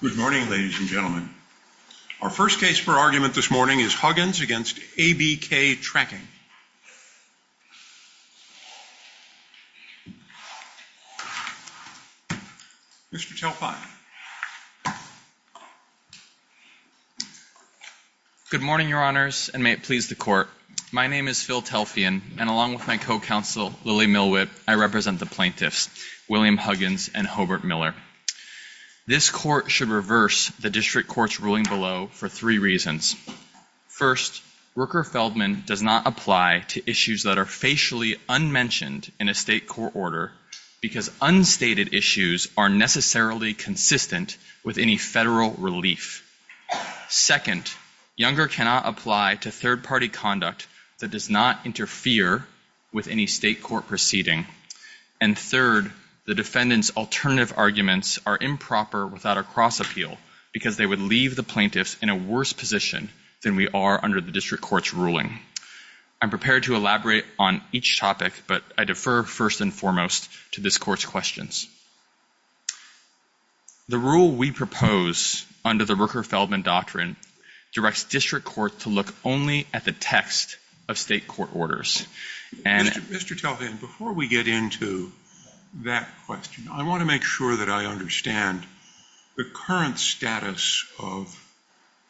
Good morning, ladies and gentlemen. Our first case for argument this morning is Huggins v. ABK Tracking. Mr. Telfian. Good morning, your honors, and may it please the court. My name is Phil Telfian, and along with my co-counsel, Lily Milwhip, I represent the plaintiffs, William Huggins and Hobart Miller. This court should reverse the district court's ruling below for three reasons. First, Rooker-Feldman does not apply to issues that are facially unmentioned in a state court order because unstated issues are necessarily consistent with any federal relief. Second, Younger cannot apply to third-party conduct that does not interfere with any state court proceeding. And third, the defendant's alternative arguments are improper without a cross-appeal because they would leave the plaintiffs in a worse position than we are under the district court's ruling. I'm prepared to elaborate on each topic, but I defer first and foremost to this court's questions. The rule we propose under the Rooker-Feldman doctrine directs district courts to look only at the text of state court orders. Mr. Telfian, before we get into that question, I want to make sure that I understand the current status of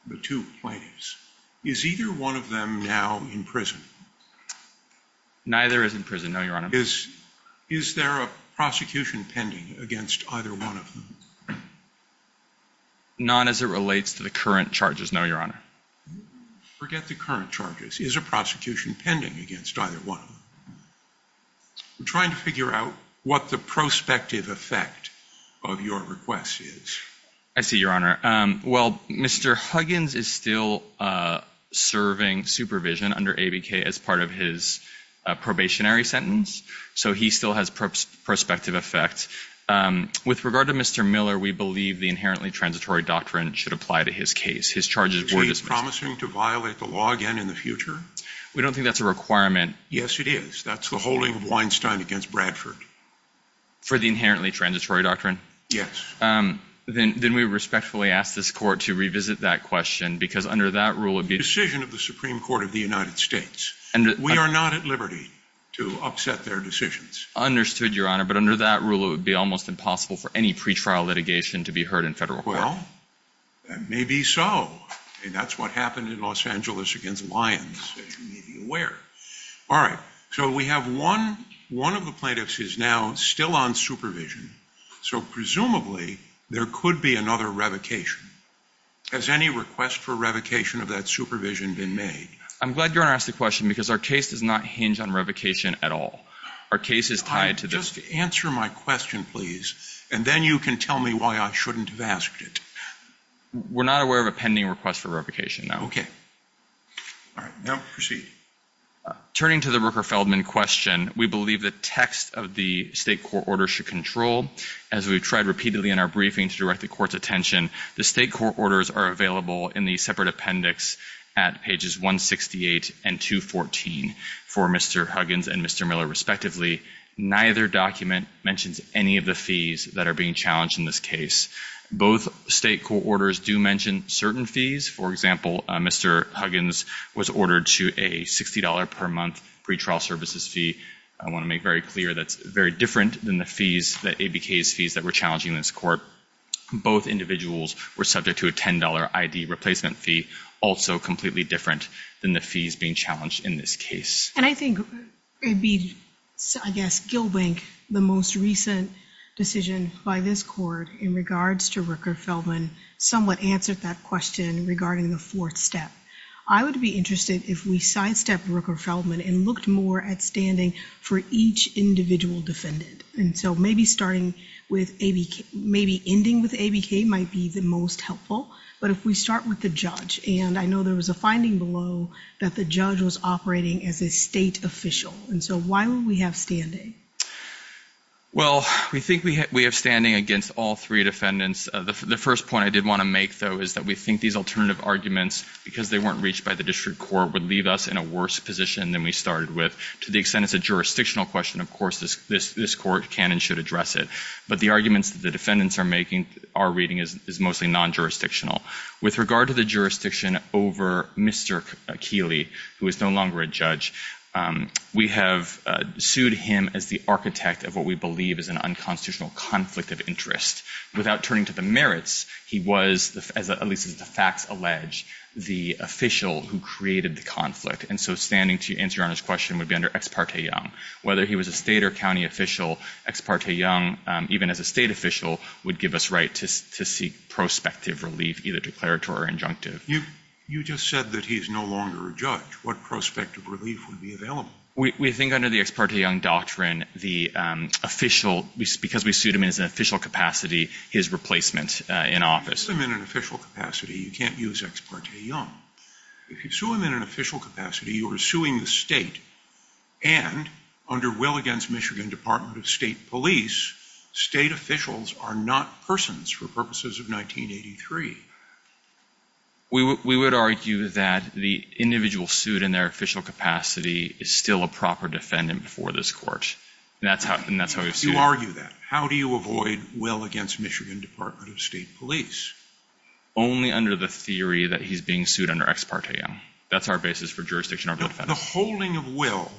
the two plaintiffs. Is either one of them now in prison? Neither is in prison, no, your honor. Is there a prosecution pending against either one of them? Not as it relates to the current charges, no, your honor. Forget the current charges. Is a prosecution pending against either one of them? I'm trying to figure out what the prospective effect of your request is. I see, your honor. Well, Mr. Huggins is still serving supervision under ABK as part of his probationary sentence, so he still has prospective effect. With regard to Mr. Miller, we believe the inherently transitory doctrine should apply to his case. Is he promising to violate the law again in the future? We don't think that's a requirement. Yes, it is. That's the holding of Weinstein against Bradford. For the inherently transitory doctrine? Yes. Then we respectfully ask this court to revisit that question, because under that rule it would be... Decision of the Supreme Court of the United States. We are not at liberty to upset their decisions. Understood, your honor, but under that rule it would be almost impossible for any pretrial litigation to be heard in federal court. Well, maybe so. That's what happened in Los Angeles against Lyons, as you may be aware. All right, so we have one of the plaintiffs is now still on supervision, so presumably there could be another revocation. Has any request for revocation of that supervision been made? I'm glad your honor asked the question, because our case does not hinge on revocation at all. Our case is tied to... Just answer my question, please, and then you can tell me why I shouldn't have asked it. We're not aware of a pending request for revocation, no. All right, now proceed. Turning to the Rooker-Feldman question, we believe the text of the state court order should control. As we've tried repeatedly in our briefing to direct the court's attention, the state court orders are available in the separate appendix at pages 168 and 214 for Mr. Huggins and Mr. Miller, respectively. Neither document mentions any of the fees that are being challenged in this case. Both state court orders do mention certain fees. For example, Mr. Huggins was ordered to a $60 per month pretrial services fee. I want to make very clear that's very different than the fees, the ABK's fees that were challenging in this court. Both individuals were subject to a $10 ID replacement fee, also completely different than the fees being challenged in this case. And I think it'd be, I guess, Gill Bank, the most recent decision by this court in regards to Rooker-Feldman somewhat answered that question regarding the fourth step. I would be interested if we sidestepped Rooker-Feldman and looked more at standing for each individual defendant. And so maybe starting with ABK, maybe ending with ABK might be the most helpful. But if we start with the judge, and I know there was a finding below that the judge was operating as a state official. And so why would we have standing? Well, we think we have standing against all three defendants. The first point I did want to make, though, is that we think these alternative arguments, because they weren't reached by the district court, would leave us in a worse position than we started with. To the extent it's a jurisdictional question, of course, this court can and should address it. But the arguments that the defendants are making, are reading, is mostly non-jurisdictional. With regard to the jurisdiction over Mr. Keeley, who is no longer a judge, we have sued him as the architect of what we believe is an unconstitutional conflict of interest. Without turning to the merits, he was, at least as the facts allege, the official who created the conflict. And so standing to answer Your Honor's question would be under ex parte young. Whether he was a state or county official, ex parte young, even as a state official, would give us right to seek prospective relief, either declaratory or injunctive. You just said that he is no longer a judge. What prospective relief would be available? We think under the ex parte young doctrine, the official, because we sued him in his official capacity, his replacement in office. If you sue him in an official capacity, you can't use ex parte young. If you sue him in an official capacity, you are suing the state. And, under will against Michigan Department of State Police, state officials are not persons for purposes of 1983. We would argue that the individual sued in their official capacity is still a proper defendant before this court. You argue that. How do you avoid will against Michigan Department of State Police? Only under the theory that he's being sued under ex parte young. That's our basis for jurisdiction. The holding of will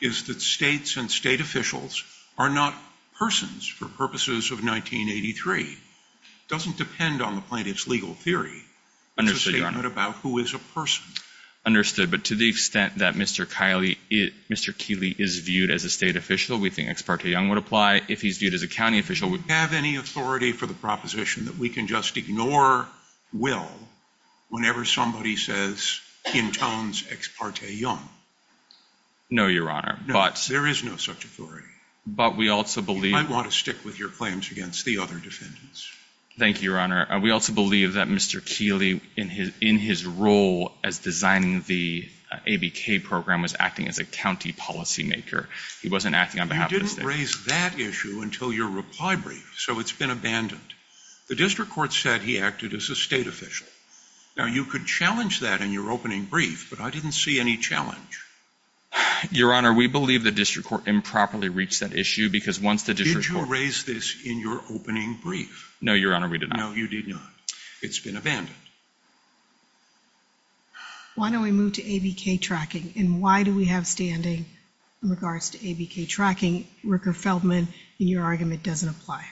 is that states and state officials are not persons for purposes of 1983. It doesn't depend on the plaintiff's legal theory. It's a statement about who is a person. Understood. But to the extent that Mr. Keeley is viewed as a state official, we think ex parte young would apply. If he's viewed as a county official, would you have any authority for the proposition that we can just ignore will whenever somebody says, intones ex parte young? No, Your Honor. There is no such authority. But we also believe... You might want to stick with your claims against the other defendants. Thank you, Your Honor. We also believe that Mr. Keeley, in his role as designing the ABK program, was acting as a county policymaker. He wasn't acting on behalf of the state. You didn't raise that issue until your reply brief, so it's been abandoned. The district court said he acted as a state official. Now, you could challenge that in your opening brief, but I didn't see any challenge. Your Honor, we believe the district court improperly reached that issue because once the district court... No, Your Honor, we did not. No, you did not. It's been abandoned. Why don't we move to ABK tracking, and why do we have standing in regards to ABK tracking, Rooker-Feldman, and your argument doesn't apply?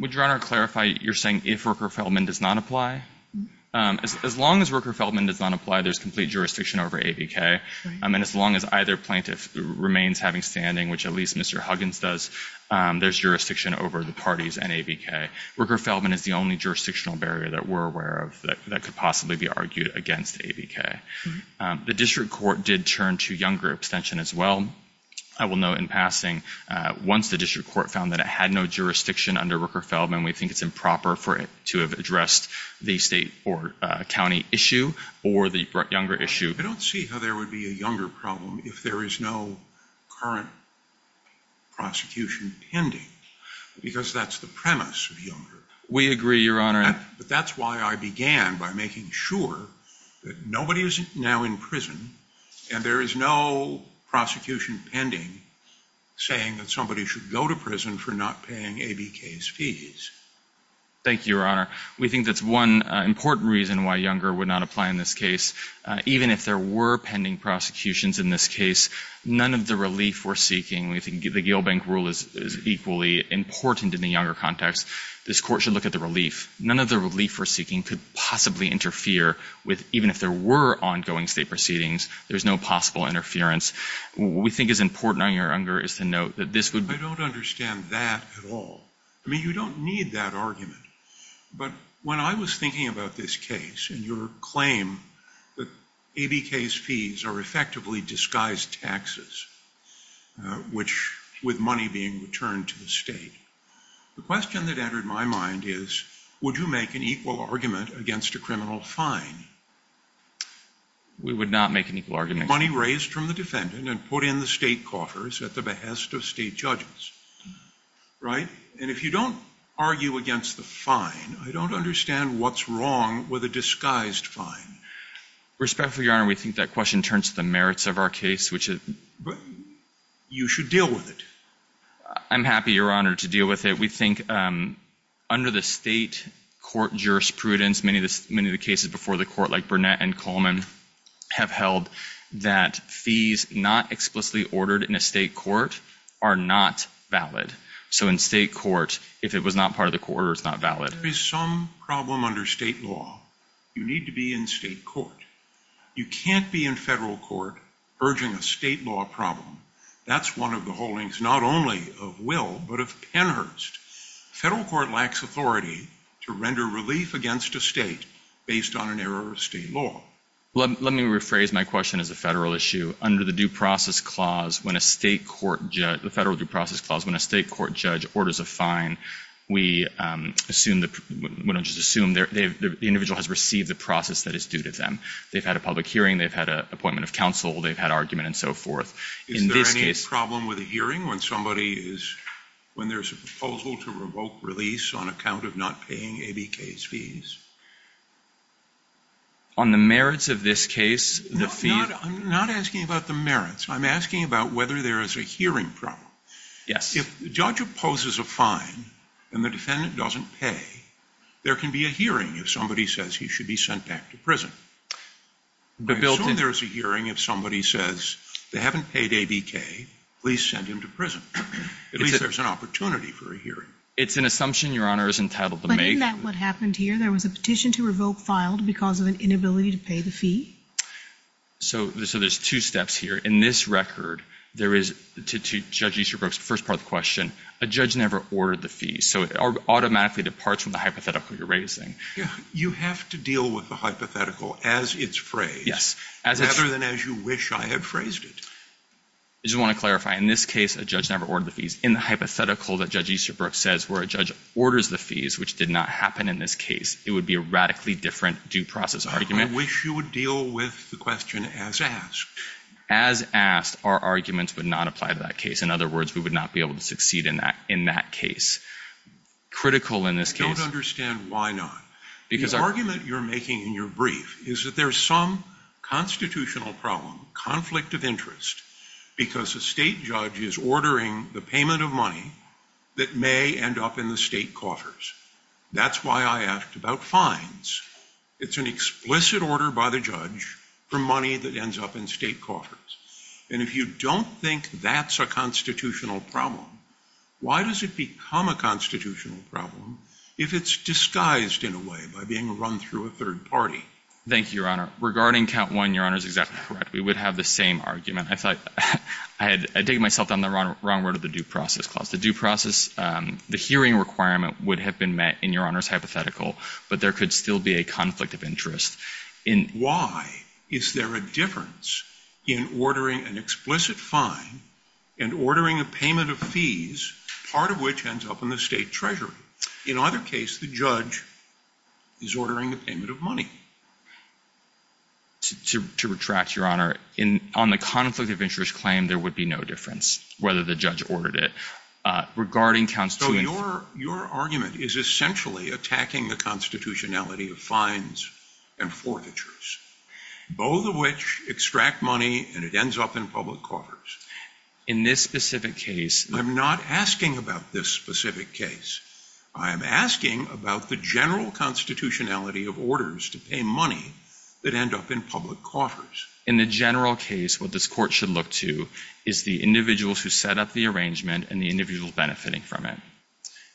Would Your Honor clarify, you're saying if Rooker-Feldman does not apply? As long as Rooker-Feldman does not apply, there's complete jurisdiction over ABK. And as long as either plaintiff remains having standing, which at least Mr. Huggins does, there's jurisdiction over the parties and ABK. Rooker-Feldman is the only jurisdictional barrier that we're aware of that could possibly be argued against ABK. The district court did turn to younger abstention as well. I will note in passing, once the district court found that it had no jurisdiction under Rooker-Feldman, we think it's improper for it to have addressed the state or county issue or the younger issue. I don't see how there would be a younger problem if there is no current prosecution pending. Because that's the premise of younger. We agree, Your Honor. But that's why I began by making sure that nobody is now in prison, and there is no prosecution pending saying that somebody should go to prison for not paying ABK's fees. Thank you, Your Honor. We think that's one important reason why younger would not apply in this case. Even if there were pending prosecutions in this case, none of the relief we're seeking, we think the Gilbank rule is equally important in the younger context. This court should look at the relief. None of the relief we're seeking could possibly interfere with, even if there were ongoing state proceedings, there's no possible interference. What we think is important on younger is to note that this would be— I don't understand that at all. I mean, you don't need that argument. But when I was thinking about this case and your claim that ABK's fees are effectively disguised taxes, which, with money being returned to the state, the question that entered my mind is, would you make an equal argument against a criminal fine? We would not make an equal argument. Money raised from the defendant and put in the state coffers at the behest of state judges, right? And if you don't argue against the fine, I don't understand what's wrong with a disguised fine. Respectfully, Your Honor, we think that question turns to the merits of our case, which is— You should deal with it. I'm happy, Your Honor, to deal with it. We think under the state court jurisprudence, many of the cases before the court, like Burnett and Coleman, have held that fees not explicitly ordered in a state court are not valid. So in state court, if it was not part of the court order, it's not valid. There is some problem under state law. You need to be in state court. You can't be in federal court urging a state law problem. That's one of the holdings, not only of Will, but of Penhurst. Federal court lacks authority to render relief against a state based on an error of state law. Let me rephrase my question as a federal issue. Under the Federal Due Process Clause, when a state court judge orders a fine, we don't just assume the individual has received the process that is due to them. They've had a public hearing. They've had an appointment of counsel. They've had argument and so forth. Is there any problem with a hearing when somebody is— when there's a proposal to revoke release on account of not paying ABK's fees? On the merits of this case, the fee— I'm not asking about the merits. I'm asking about whether there is a hearing problem. If the judge opposes a fine and the defendant doesn't pay, there can be a hearing if somebody says he should be sent back to prison. I assume there's a hearing if somebody says they haven't paid ABK, please send him to prison. At least there's an opportunity for a hearing. It's an assumption Your Honor is entitled to make. But isn't that what happened here? There was a petition to revoke filed because of an inability to pay the fee? So there's two steps here. In this record, there is, to Judge Easterbrook's first part of the question, a judge never ordered the fees. So it automatically departs from the hypothetical you're raising. You have to deal with the hypothetical as it's phrased, rather than as you wish I had phrased it. I just want to clarify. In this case, a judge never ordered the fees. In the hypothetical that Judge Easterbrook says where a judge orders the fees, which did not happen in this case, it would be a radically different due process argument. I wish you would deal with the question as asked. As asked, our arguments would not apply to that case. In other words, we would not be able to succeed in that case. Critical in this case. I don't understand why not. The argument you're making in your brief is that there's some constitutional problem, conflict of interest, because a state judge is ordering the payment of money that may end up in the state coffers. That's why I asked about fines. It's an explicit order by the judge for money that ends up in state coffers. And if you don't think that's a constitutional problem, why does it become a constitutional problem if it's disguised in a way by being run through a third party? Thank you, Your Honor. Regarding count one, Your Honor is exactly correct. We would have the same argument. I thought I had taken myself down the wrong road with the due process clause. The hearing requirement would have been met in Your Honor's hypothetical, which would be a conflict of interest. Why is there a difference in ordering an explicit fine and ordering a payment of fees, part of which ends up in the state treasury? In either case, the judge is ordering the payment of money. To retract, Your Honor, on the conflict of interest claim, there would be no difference whether the judge ordered it. Regarding count two... So your argument is essentially attacking the constitutionality of fines and forfeitures, both of which extract money and it ends up in public coffers. In this specific case... I'm not asking about this specific case. I am asking about the general constitutionality of orders to pay money that end up in public coffers. In the general case, what this court should look to is the individuals who set up the arrangement and the individuals benefiting from it.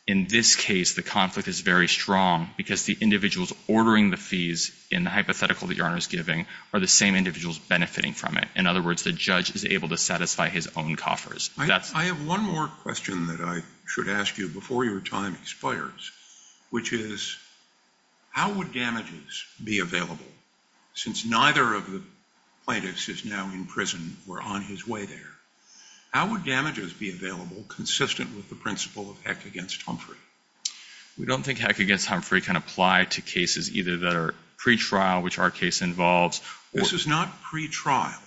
In this case, the conflict is very strong because the individuals ordering the fees in the hypothetical that Your Honor is giving are the same individuals benefiting from it. In other words, the judge is able to satisfy his own coffers. I have one more question that I should ask you before your time expires, which is how would damages be available since neither of the plaintiffs is now in prison or on his way there? How would damages be available consistent with the principle of Heck against Humphrey? We don't think Heck against Humphrey can apply to cases either that are pretrial, which our case involves... This is not pretrial.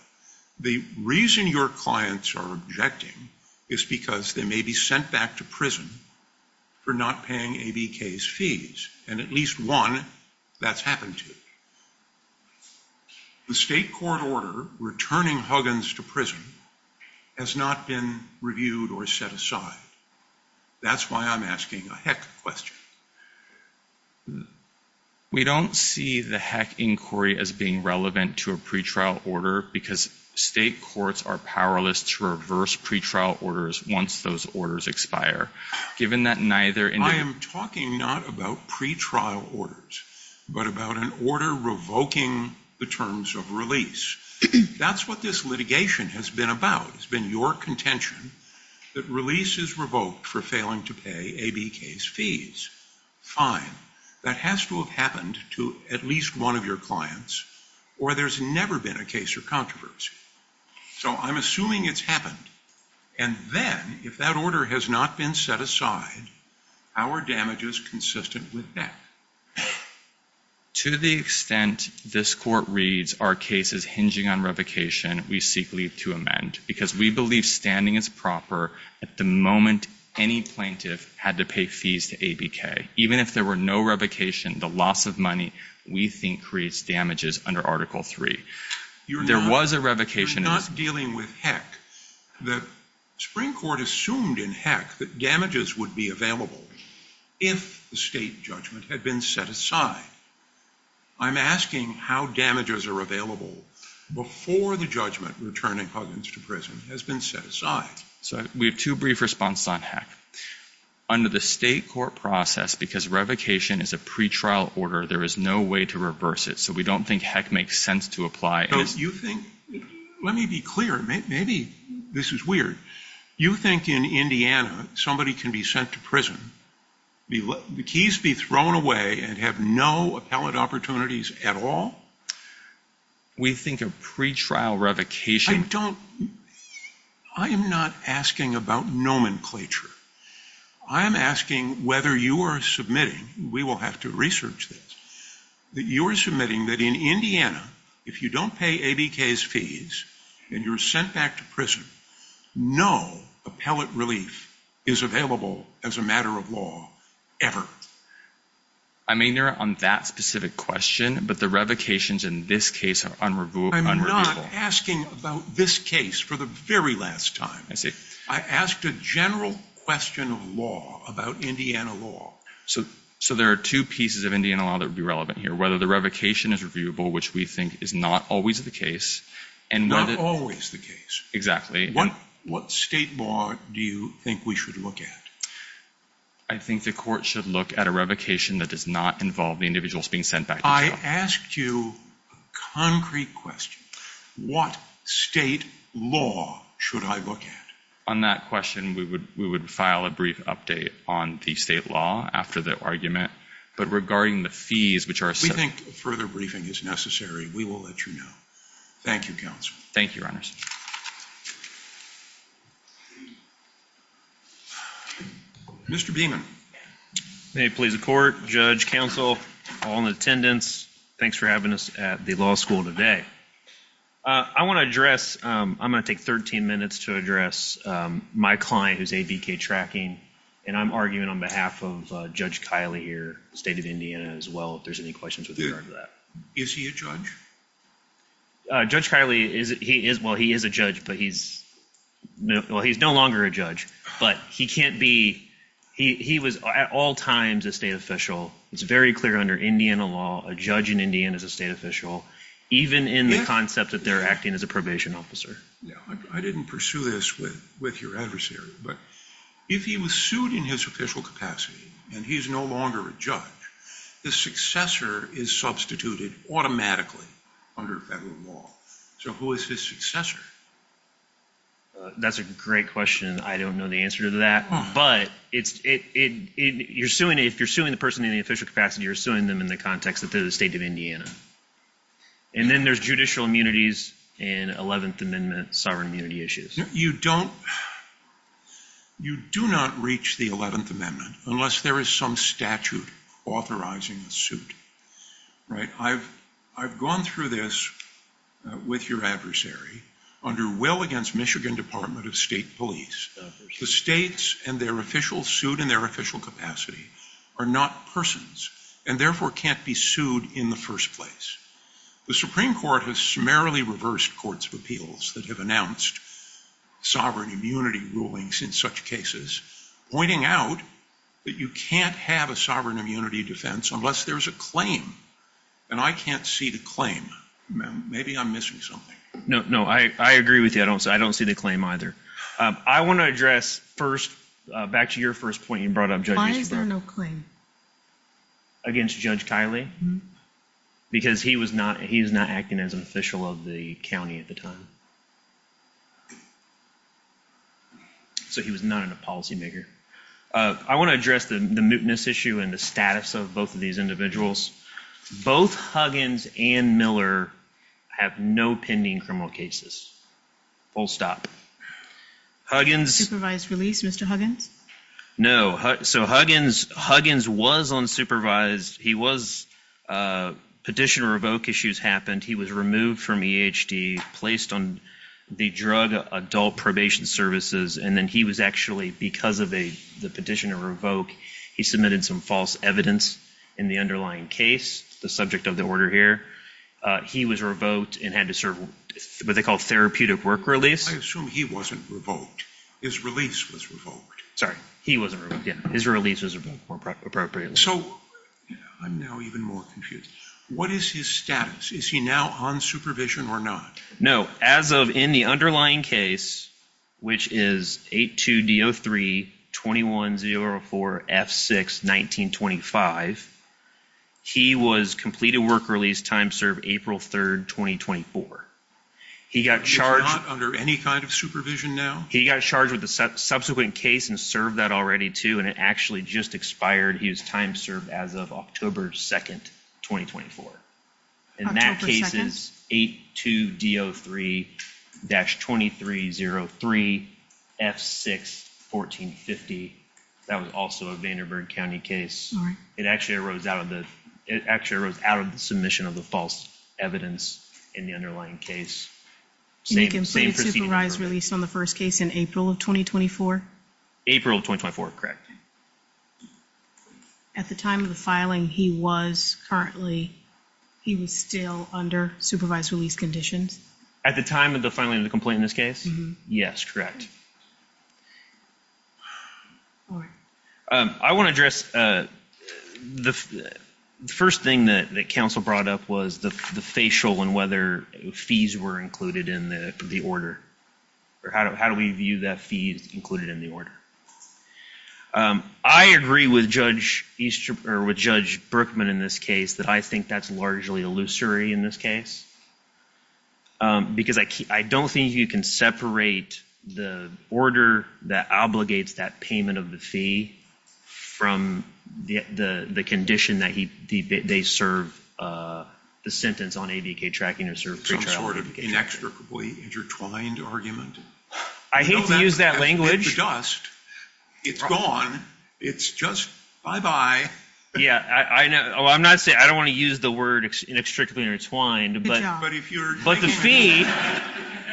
The reason your clients are objecting is because they may be sent back to prison for not paying ABK's fees, and at least one that's happened to. The state court order returning Huggins to prison has not been reviewed or set aside. That's why I'm asking a Heck question. We don't see the Heck inquiry as being relevant to a pretrial order because state courts are powerless to reverse pretrial orders once those orders expire. Given that neither... I am talking not about pretrial orders, but about an order revoking the terms of release. That's what this litigation has been about. It's been your contention that release is revoked for failing to pay ABK's fees. Fine. That has to have happened to at least one of your clients, or there's never been a case or controversy. So I'm assuming it's happened. And then, if that order has not been set aside, how are damages consistent with that? To the extent this court reads our case as hinging on revocation, we seek leave to amend because we believe standing is proper at the moment any plaintiff had to pay fees to ABK. Even if there were no revocation, the loss of money, we think, creates damages under Article III. There was a revocation... You're not dealing with Heck. The Supreme Court assumed in Heck that damages would be available if the state judgment had been set aside. I'm asking how damages are available before the judgment returning Huggins to prison has been set aside. So we have two brief responses on Heck. Under the state court process, because revocation is a pretrial order, there is no way to reverse it. So we don't think Heck makes sense to apply... But you think... Let me be clear. Maybe this is weird. You think in Indiana somebody can be sent to prison, the keys be thrown away and have no appellate opportunities at all? We think a pretrial revocation... I don't... I am not asking about nomenclature. I am asking whether you are submitting, we will have to research this, that you are submitting that in Indiana, if you don't pay ABK's fees and you're sent back to prison, no appellate relief is available as a matter of law ever. I may narrow it on that specific question, but the revocations in this case are unreviewable. I am not asking about this case for the very last time. I asked a general question of law about Indiana law. So there are two pieces of Indiana law that would be relevant here. Whether the revocation is reviewable, which we think is not always the case. Not always the case. Exactly. What state law do you think we should look at? I think the court should look at a revocation that does not involve the individuals being sent back to jail. I asked you a concrete question. What state law should I look at? On that question, we would file a brief update on the state law after the argument. But regarding the fees, which are... We think a further briefing is necessary. We will let you know. Thank you, Counsel. Thank you, Your Honors. Thank you. Mr. Beaman. May it please the Court, Judge, Counsel, all in attendance, thanks for having us at the law school today. I want to address... I'm going to take 13 minutes to address my client, who is ABK Tracking. And I'm arguing on behalf of Judge Kiley here, the state of Indiana as well, if there's any questions with regard to that. Is he a judge? Judge Kiley, he is... Well, he is a judge, but he's... He was at all times a state official. It's very clear under Indiana law, a judge in Indiana is a state official, even in the concept that they're acting as a probation officer. I didn't pursue this with your adversary, but if he was sued in his official capacity and he's no longer a judge, the successor is substituted automatically under federal law. So who is his successor? That's a great question. I don't know the answer to that. But it's... You're suing... If you're suing the person in the official capacity, you're suing them in the context that they're the state of Indiana. And then there's judicial immunities and 11th Amendment sovereign immunity issues. You don't... You do not reach the 11th Amendment unless there is some statute authorizing a suit. Right? I've gone through this with your adversary under Will against Michigan Department of State Police. The states and their officials sued in their official capacity are not persons and therefore can't be sued in the first place. The Supreme Court has summarily reversed courts of appeals that have announced sovereign immunity rulings in such cases, pointing out that you can't have a sovereign immunity defense unless there's a claim. And I can't see the claim. Maybe I'm missing something. I agree with you. I don't see the claim either. I want to address first, back to your first point you brought up, Judge Eastbrook. Why is there no claim? Against Judge Kiley? Because he was not... He was not acting as an official of the county at the time. So he was not a policymaker. I want to address the mootness issue and the status of both of these individuals. Both Huggins and Miller Full stop. Huggins... Supervised release, Mr. Huggins? No. So Huggins was unsupervised. He was... Petitioner revoke issues happened. He was removed from EHD, placed on the drug adult probation services, and then he was actually, because of the petitioner revoke, he submitted some false evidence in the underlying case, the subject of the order here. Was it a therapeutic work release? I assume he wasn't revoked. His release was revoked. Sorry, he wasn't revoked, yeah. His release was revoked more appropriately. So, I'm now even more confused. What is his status? Is he now on supervision or not? No, as of in the underlying case, which is 8-2-D-0-3-21-0-4-F-6-19-25, he was completed work release time served April 3rd, 2024. So he's not under any kind of supervision now? He got charged with a subsequent case and served that already, too, and it actually just expired. He was time served as of October 2nd, 2024. October 2nd? And that case is 8-2-D-0-3-23-0-3-F-6-14-50. That was also a Vanderburg County case. All right. It actually arose out of the submission of the false evidence in the underlying case. And he completed supervised release on the first case in April of 2024? April of 2024, correct. At the time of the filing, he was still under supervised release conditions? At the time of the filing of the complaint in this case? Yes, correct. All right. I want to address, the first thing that council brought up was the facial and whether fees were included in the order. Or how do we view that fees included in the order? I agree with Judge Brookman in this case that I think that's largely illusory in this case because I don't think you can separate the order that obligates that payment of the fee from the condition that they serve the sentence on AVK tracking or pre-trial. Inextricably intertwined argument. I hate to use that language. It's just, it's gone. It's just bye-bye. Yeah, I know. I'm not saying, I don't want to use the word inextricably intertwined. But the fee.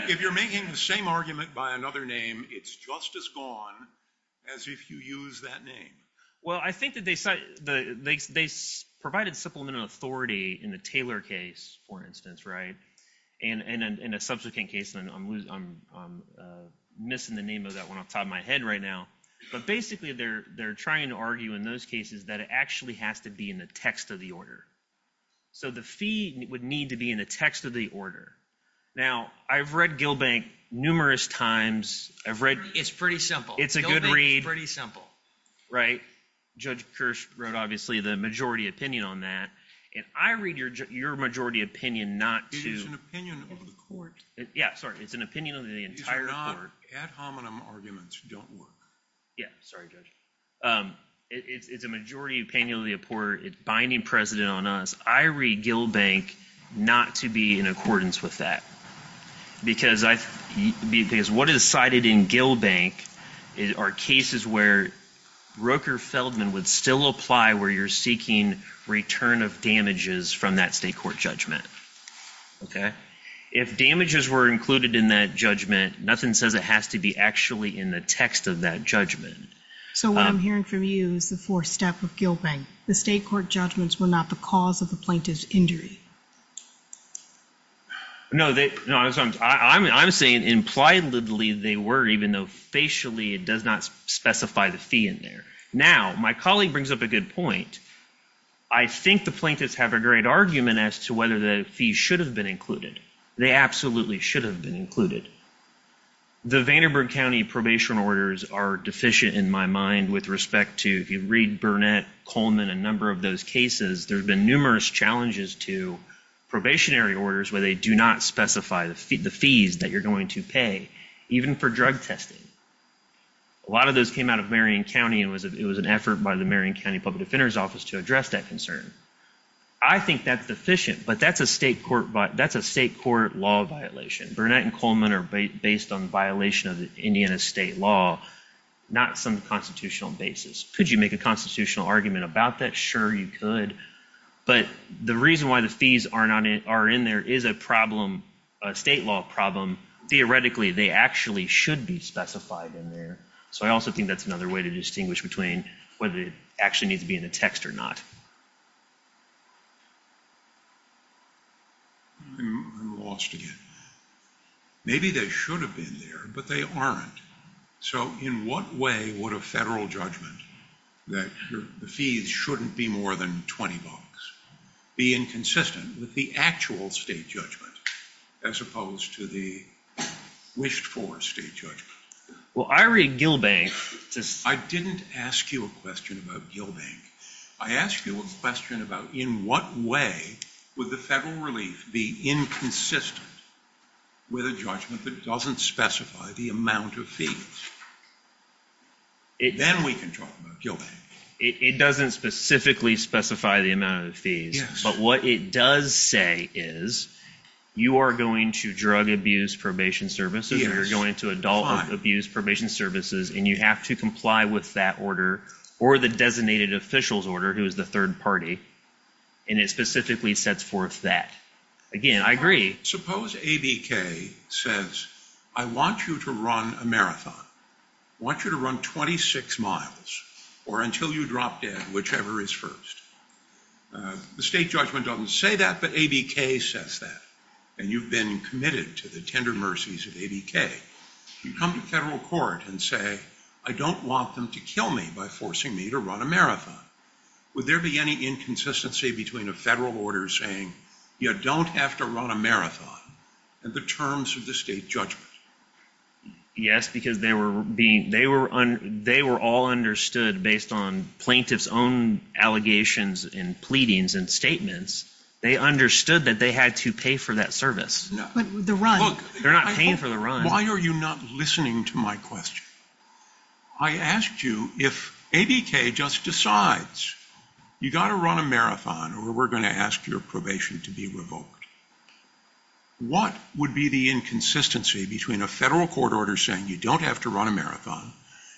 If you're making the same argument by another name, it's just as gone as if you use that name. Well, I think that they provided supplemental authority in the Taylor case, for instance, right? And then in a subsequent case, I'm missing the name of that one off the top of my head right now. But basically, they're trying to argue in those cases that it actually has to be in the text of the order. So the fee would need to be in the text of the order. Now, I've read Gilbank numerous times. I've read. It's pretty simple. It's a good read. It's pretty simple. Right? Judge Kirsch wrote obviously the majority opinion on that. And I read your majority opinion not to. It is an opinion of the court. Yeah, sorry. It's an opinion of the entire court. These are not ad hominem arguments that don't work. Yeah, sorry, Judge. It's a majority opinion of the court. It's binding precedent on us. I read Gilbank not to be in accordance with that. Because what is cited in Gilbank are cases where Roker Feldman would still apply where you're seeking return of damages from that state court judgment. Okay? If damages were included in that judgment, nothing says it has to be actually in the text of that judgment. So what I'm hearing from you is the fourth step of Gilbank. The state court judgments were not the cause of the plaintiff's injury. No, I'm saying impliedly they were, even though facially it does not specify the fee in there. Now, my colleague brings up a good point. I think the plaintiffs have a great argument as to whether the fees should have been included. They absolutely should have been included. The Vanderburg County probation orders are deficient in my mind with respect to, if you read Burnett, Coleman, a number of those cases, there have been numerous challenges to probationary orders where they do not specify the fees that you're going to pay, even for drug testing. A lot of those came out of Marion County and it was an effort by the Marion County Public Defender's Office to address that concern. I think that's deficient, but that's a state court law violation. Burnett and Coleman are based on violation of the Indiana state law, not some constitutional basis. Could you make a constitutional argument about that? Sure, you could, but the reason why the fees are in there is a problem, a state law problem. Theoretically, they actually should be specified in there. So I also think that's another way to distinguish between whether it actually needs to be in the text or not. I'm lost again. Maybe they should have been there, but they aren't. So in what way would a federal judgment that the fees shouldn't be more than 20 bucks be inconsistent with the actual state judgment, as opposed to the wished-for state judgment? Well, I read Gilbank. I didn't ask you a question about Gilbank. I asked you a question about in what way would the federal relief be inconsistent with a judgment that doesn't specify the amount of fees? Then we can talk about Gilbank. It doesn't specifically specify the amount of fees, but what it does say is you are going to drug abuse probation services or you're going to adult abuse probation services and you have to comply with that order or the designated officials order, who is the third party. And it specifically sets forth that. Again, I agree. Suppose ABK says, I want you to run a marathon. I want you to run 26 miles or until you drop dead, whichever is first. The state judgment doesn't say that, but ABK says that. And you've been committed to the tender mercies of ABK. You come to federal court and say, I don't want them to kill me by forcing me to run a marathon. Would there be any inconsistency between a federal order saying, you don't have to run a marathon and the terms of the state judgment? Yes, because they were all understood based on plaintiff's own allegations and pleadings and statements. They understood that they had to pay for that service. They're not paying for the run. Why are you not listening to my question? I asked you if ABK just decides you've got to run a marathon or we're going to ask your probation to be revoked. What would be the inconsistency between a federal court order saying you don't have to run a marathon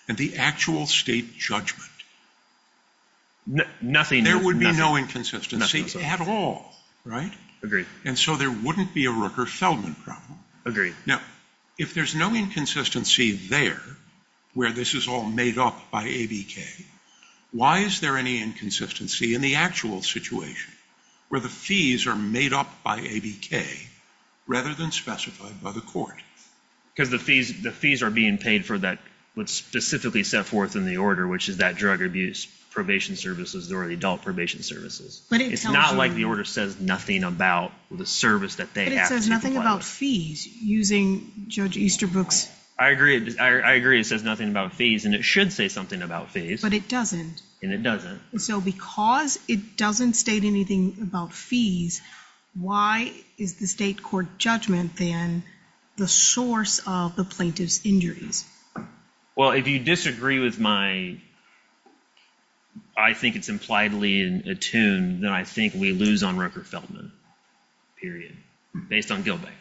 and the actual state judgment? Nothing. There would be no inconsistency at all, right? Agreed. It's a fulfillment problem. Agreed. Now, if there's no inconsistency there where this is all made up by ABK, why is there any inconsistency in the actual situation where the fees are made up by ABK rather than specified by the court? Because the fees are being paid for what's specifically set forth in the order, which is that drug abuse probation services or adult probation services. It's not like the order says nothing about the service that they have to comply with. But it says nothing about fees using Judge Easterbrook's... I agree. It says nothing about fees and it should say something about fees. But it doesn't. And it doesn't. So because it doesn't state anything about fees, why is the state court judgment then the source of the plaintiff's injuries? Well, if you disagree with my... I think it's impliedly attuned that I think we lose on Rooker-Feldman, period, based on Gilbeck.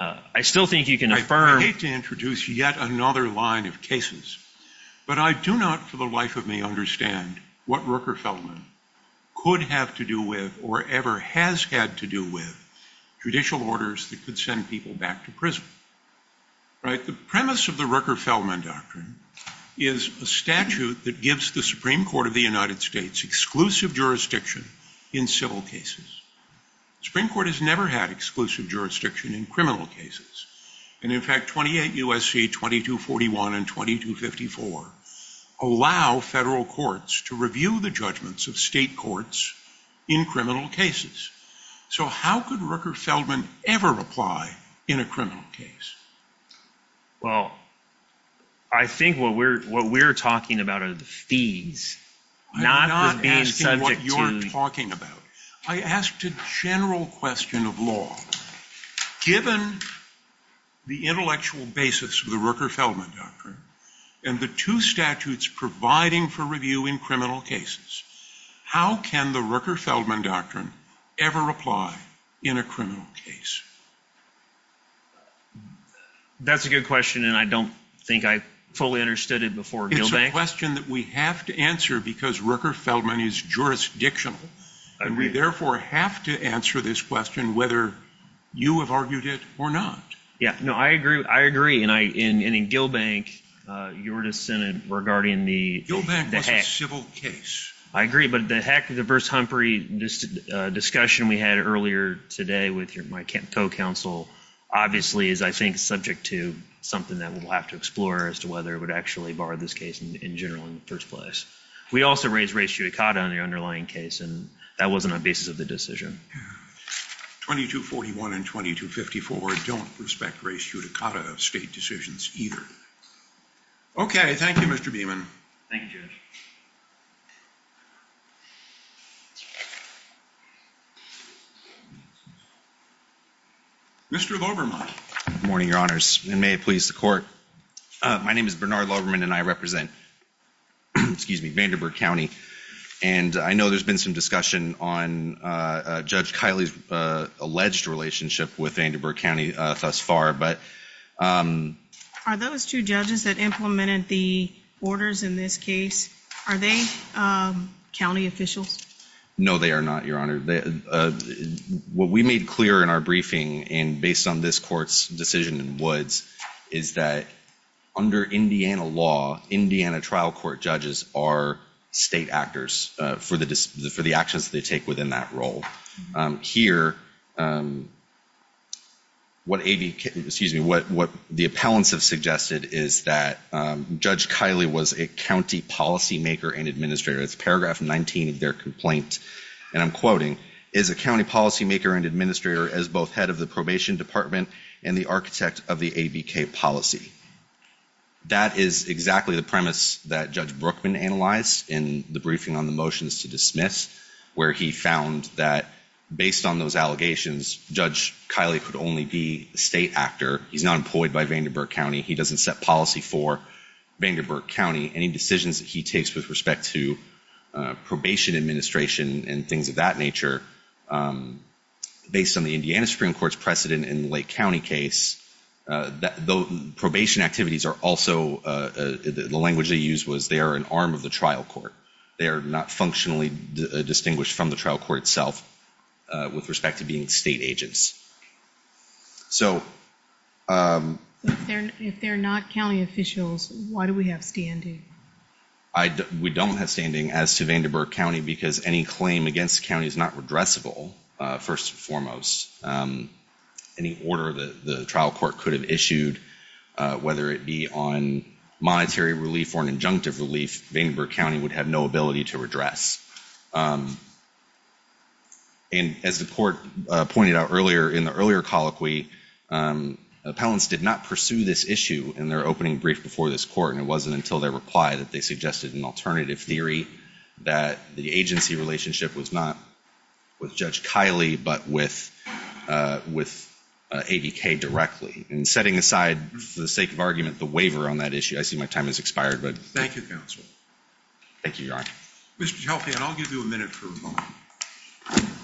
I still think you can affirm... I hate to introduce yet another line of cases, but I do not for the life of me understand what Rooker-Feldman could have to do with or ever has had to do with judicial orders that could send people back to prison. Right? The premise of the Rooker-Feldman doctrine is a statute that gives the Supreme Court of the United States exclusive jurisdiction in civil cases. The Supreme Court has never had exclusive jurisdiction in criminal cases. And in fact, 28 U.S.C. 2241 and 2254 allow federal courts to review the judgments of state courts in criminal cases. So how could Rooker-Feldman ever apply in a criminal case? Well, I think what we're talking about are the fees, not the being subject to... I'm not asking what you're talking about. I asked a general question of law. the intellectual basis of the Rooker-Feldman doctrine and the two statutes providing for review in criminal cases, how can the Rooker-Feldman doctrine ever apply in a criminal case? That's a good question, and I don't think I fully understood it before Gilbeck. It's a question that we have to answer because Rooker-Feldman is jurisdictional. I agree. And we therefore have to answer this question whether you have argued it or not. Yeah, no, I agree. And in Gilbeck, you were dissented regarding the... Gilbeck was a civil case. I agree, but the heck of the verse Humphrey, this discussion we had earlier today with my co-counsel, obviously is, I think, subject to something that we'll have to explore as to whether it would actually bar this case in general in the first place. We also raised race judicata in the underlying case, and that wasn't a basis of the decision. 2241 and 2254 don't respect race judicata of state decisions either. Okay, thank you, Mr. Beaman. Thank you, Judge. Mr. Loberman. Good morning, Your Honors, and may it please the Court. My name is Bernard Loberman, and I'm a judge in Vandenberg County, and I know there's been some discussion on Judge Kiley's alleged relationship with Vandenberg County thus far, but... Are those two judges that implemented the orders in this case, are they county officials? No, they are not, Your Honor. What we made clear in our briefing, and based on this Court's decision in Woods, is that under Indiana law, Indiana trial court judges are state actors for the actions they take within that role. what the appellants have suggested is that Judge Kiley was a county policymaker and administrator. It's paragraph 19 of their complaint, and I'm quoting, is a county policymaker and administrator as both head of the probation department and the architect of the ABK policy. That is exactly the premise that Judge Brookman analyzed in the briefing on the motions to dismiss, where he found that, based on those allegations, Judge Kiley could only be a state actor. He's not employed by Vandenberg County. He doesn't set policy for Vandenberg County. Any decisions that he takes with respect to probation administration and things of that nature, based on the Indiana Supreme Court's precedent in the Lake County case, those probation activities are also, the language they used was they are an arm of the trial court. They are not functionally distinguished from the trial court itself with respect to being state agents. If they're not county officials, why do we have standing? We don't have standing as to Vandenberg County because any claim against the county is not redressable, first and foremost. Any order that the trial court could have issued, whether it be on monetary relief or an injunctive relief, Vandenberg County would have no ability to redress. As the court pointed out earlier in the earlier colloquy, appellants did not pursue this issue in their opening brief before this court, and it wasn't until their reply that they suggested an alternative theory that the agency relationship was not with Judge Kiley, but with AVK directly. Setting aside, for the sake of argument, the waiver on that issue, I see my time has expired. Thank you, counsel. Thank you, Your Honor. Mr. Chalfie, I'll give you a minute for a moment.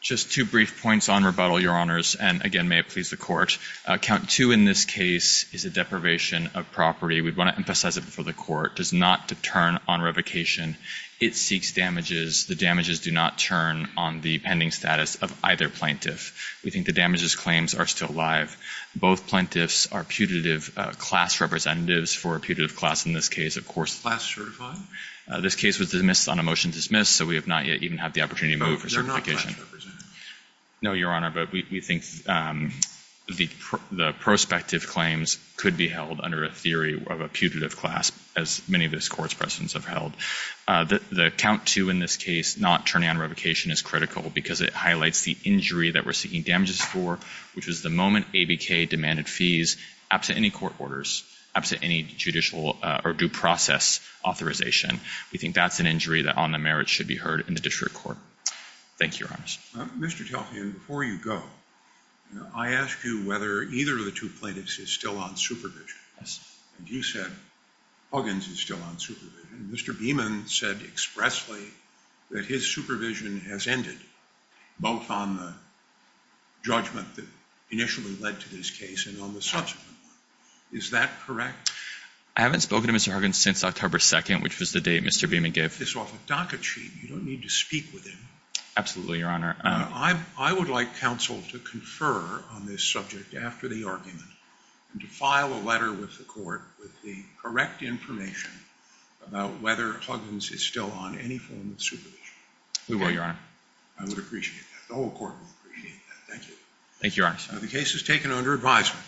Just two brief points on rebuttal, Your Honors, and again, may it please the court. Count two in this case is a deprivation of property. We want to emphasize it before the court. It does not deter on revocation. It seeks damages. The damages do not turn on the pending status of either plaintiff. We think the damages claims are still alive. Both plaintiffs are putative class representatives for a putative class in this case, of course. Class certified? This case was dismissed on a motion to dismiss, so we have not yet even had the opportunity to move for certification. No, Your Honor, but we think the prospective claims could be held under a theory of a putative class, as many of this court's presidents have held. The count two in this case, not turning on revocation, is critical because it highlights the injury that we're seeking damages for, which was the moment ABK demanded fees absent any court orders, absent any judicial or due process authorization. We think that's an injury that on the merits should be heard in the district court. Thank you, Your Honors. Mr. Chalfie, and before you go, I ask you whether either of the two plaintiffs is still on supervision. And you said Huggins is still on supervision. Veman said expressly that his supervision has ended, both on the judgment that initially led to this case and on the subsequent one. Is that correct? I haven't spoken to Mr. Huggins since October 2nd, which was the date Mr. Veman gave. Get this off a docket sheet. You don't need to speak with him. Absolutely, Your Honor. I would like counsel to confer on this subject after the argument and to file a letter with the court with the correct information about whether Huggins is still on any form of supervision. We will, Your Honor. I would appreciate that. The whole court would appreciate that. Thank you. Thank you, Your Honors. The case is taken under advisement.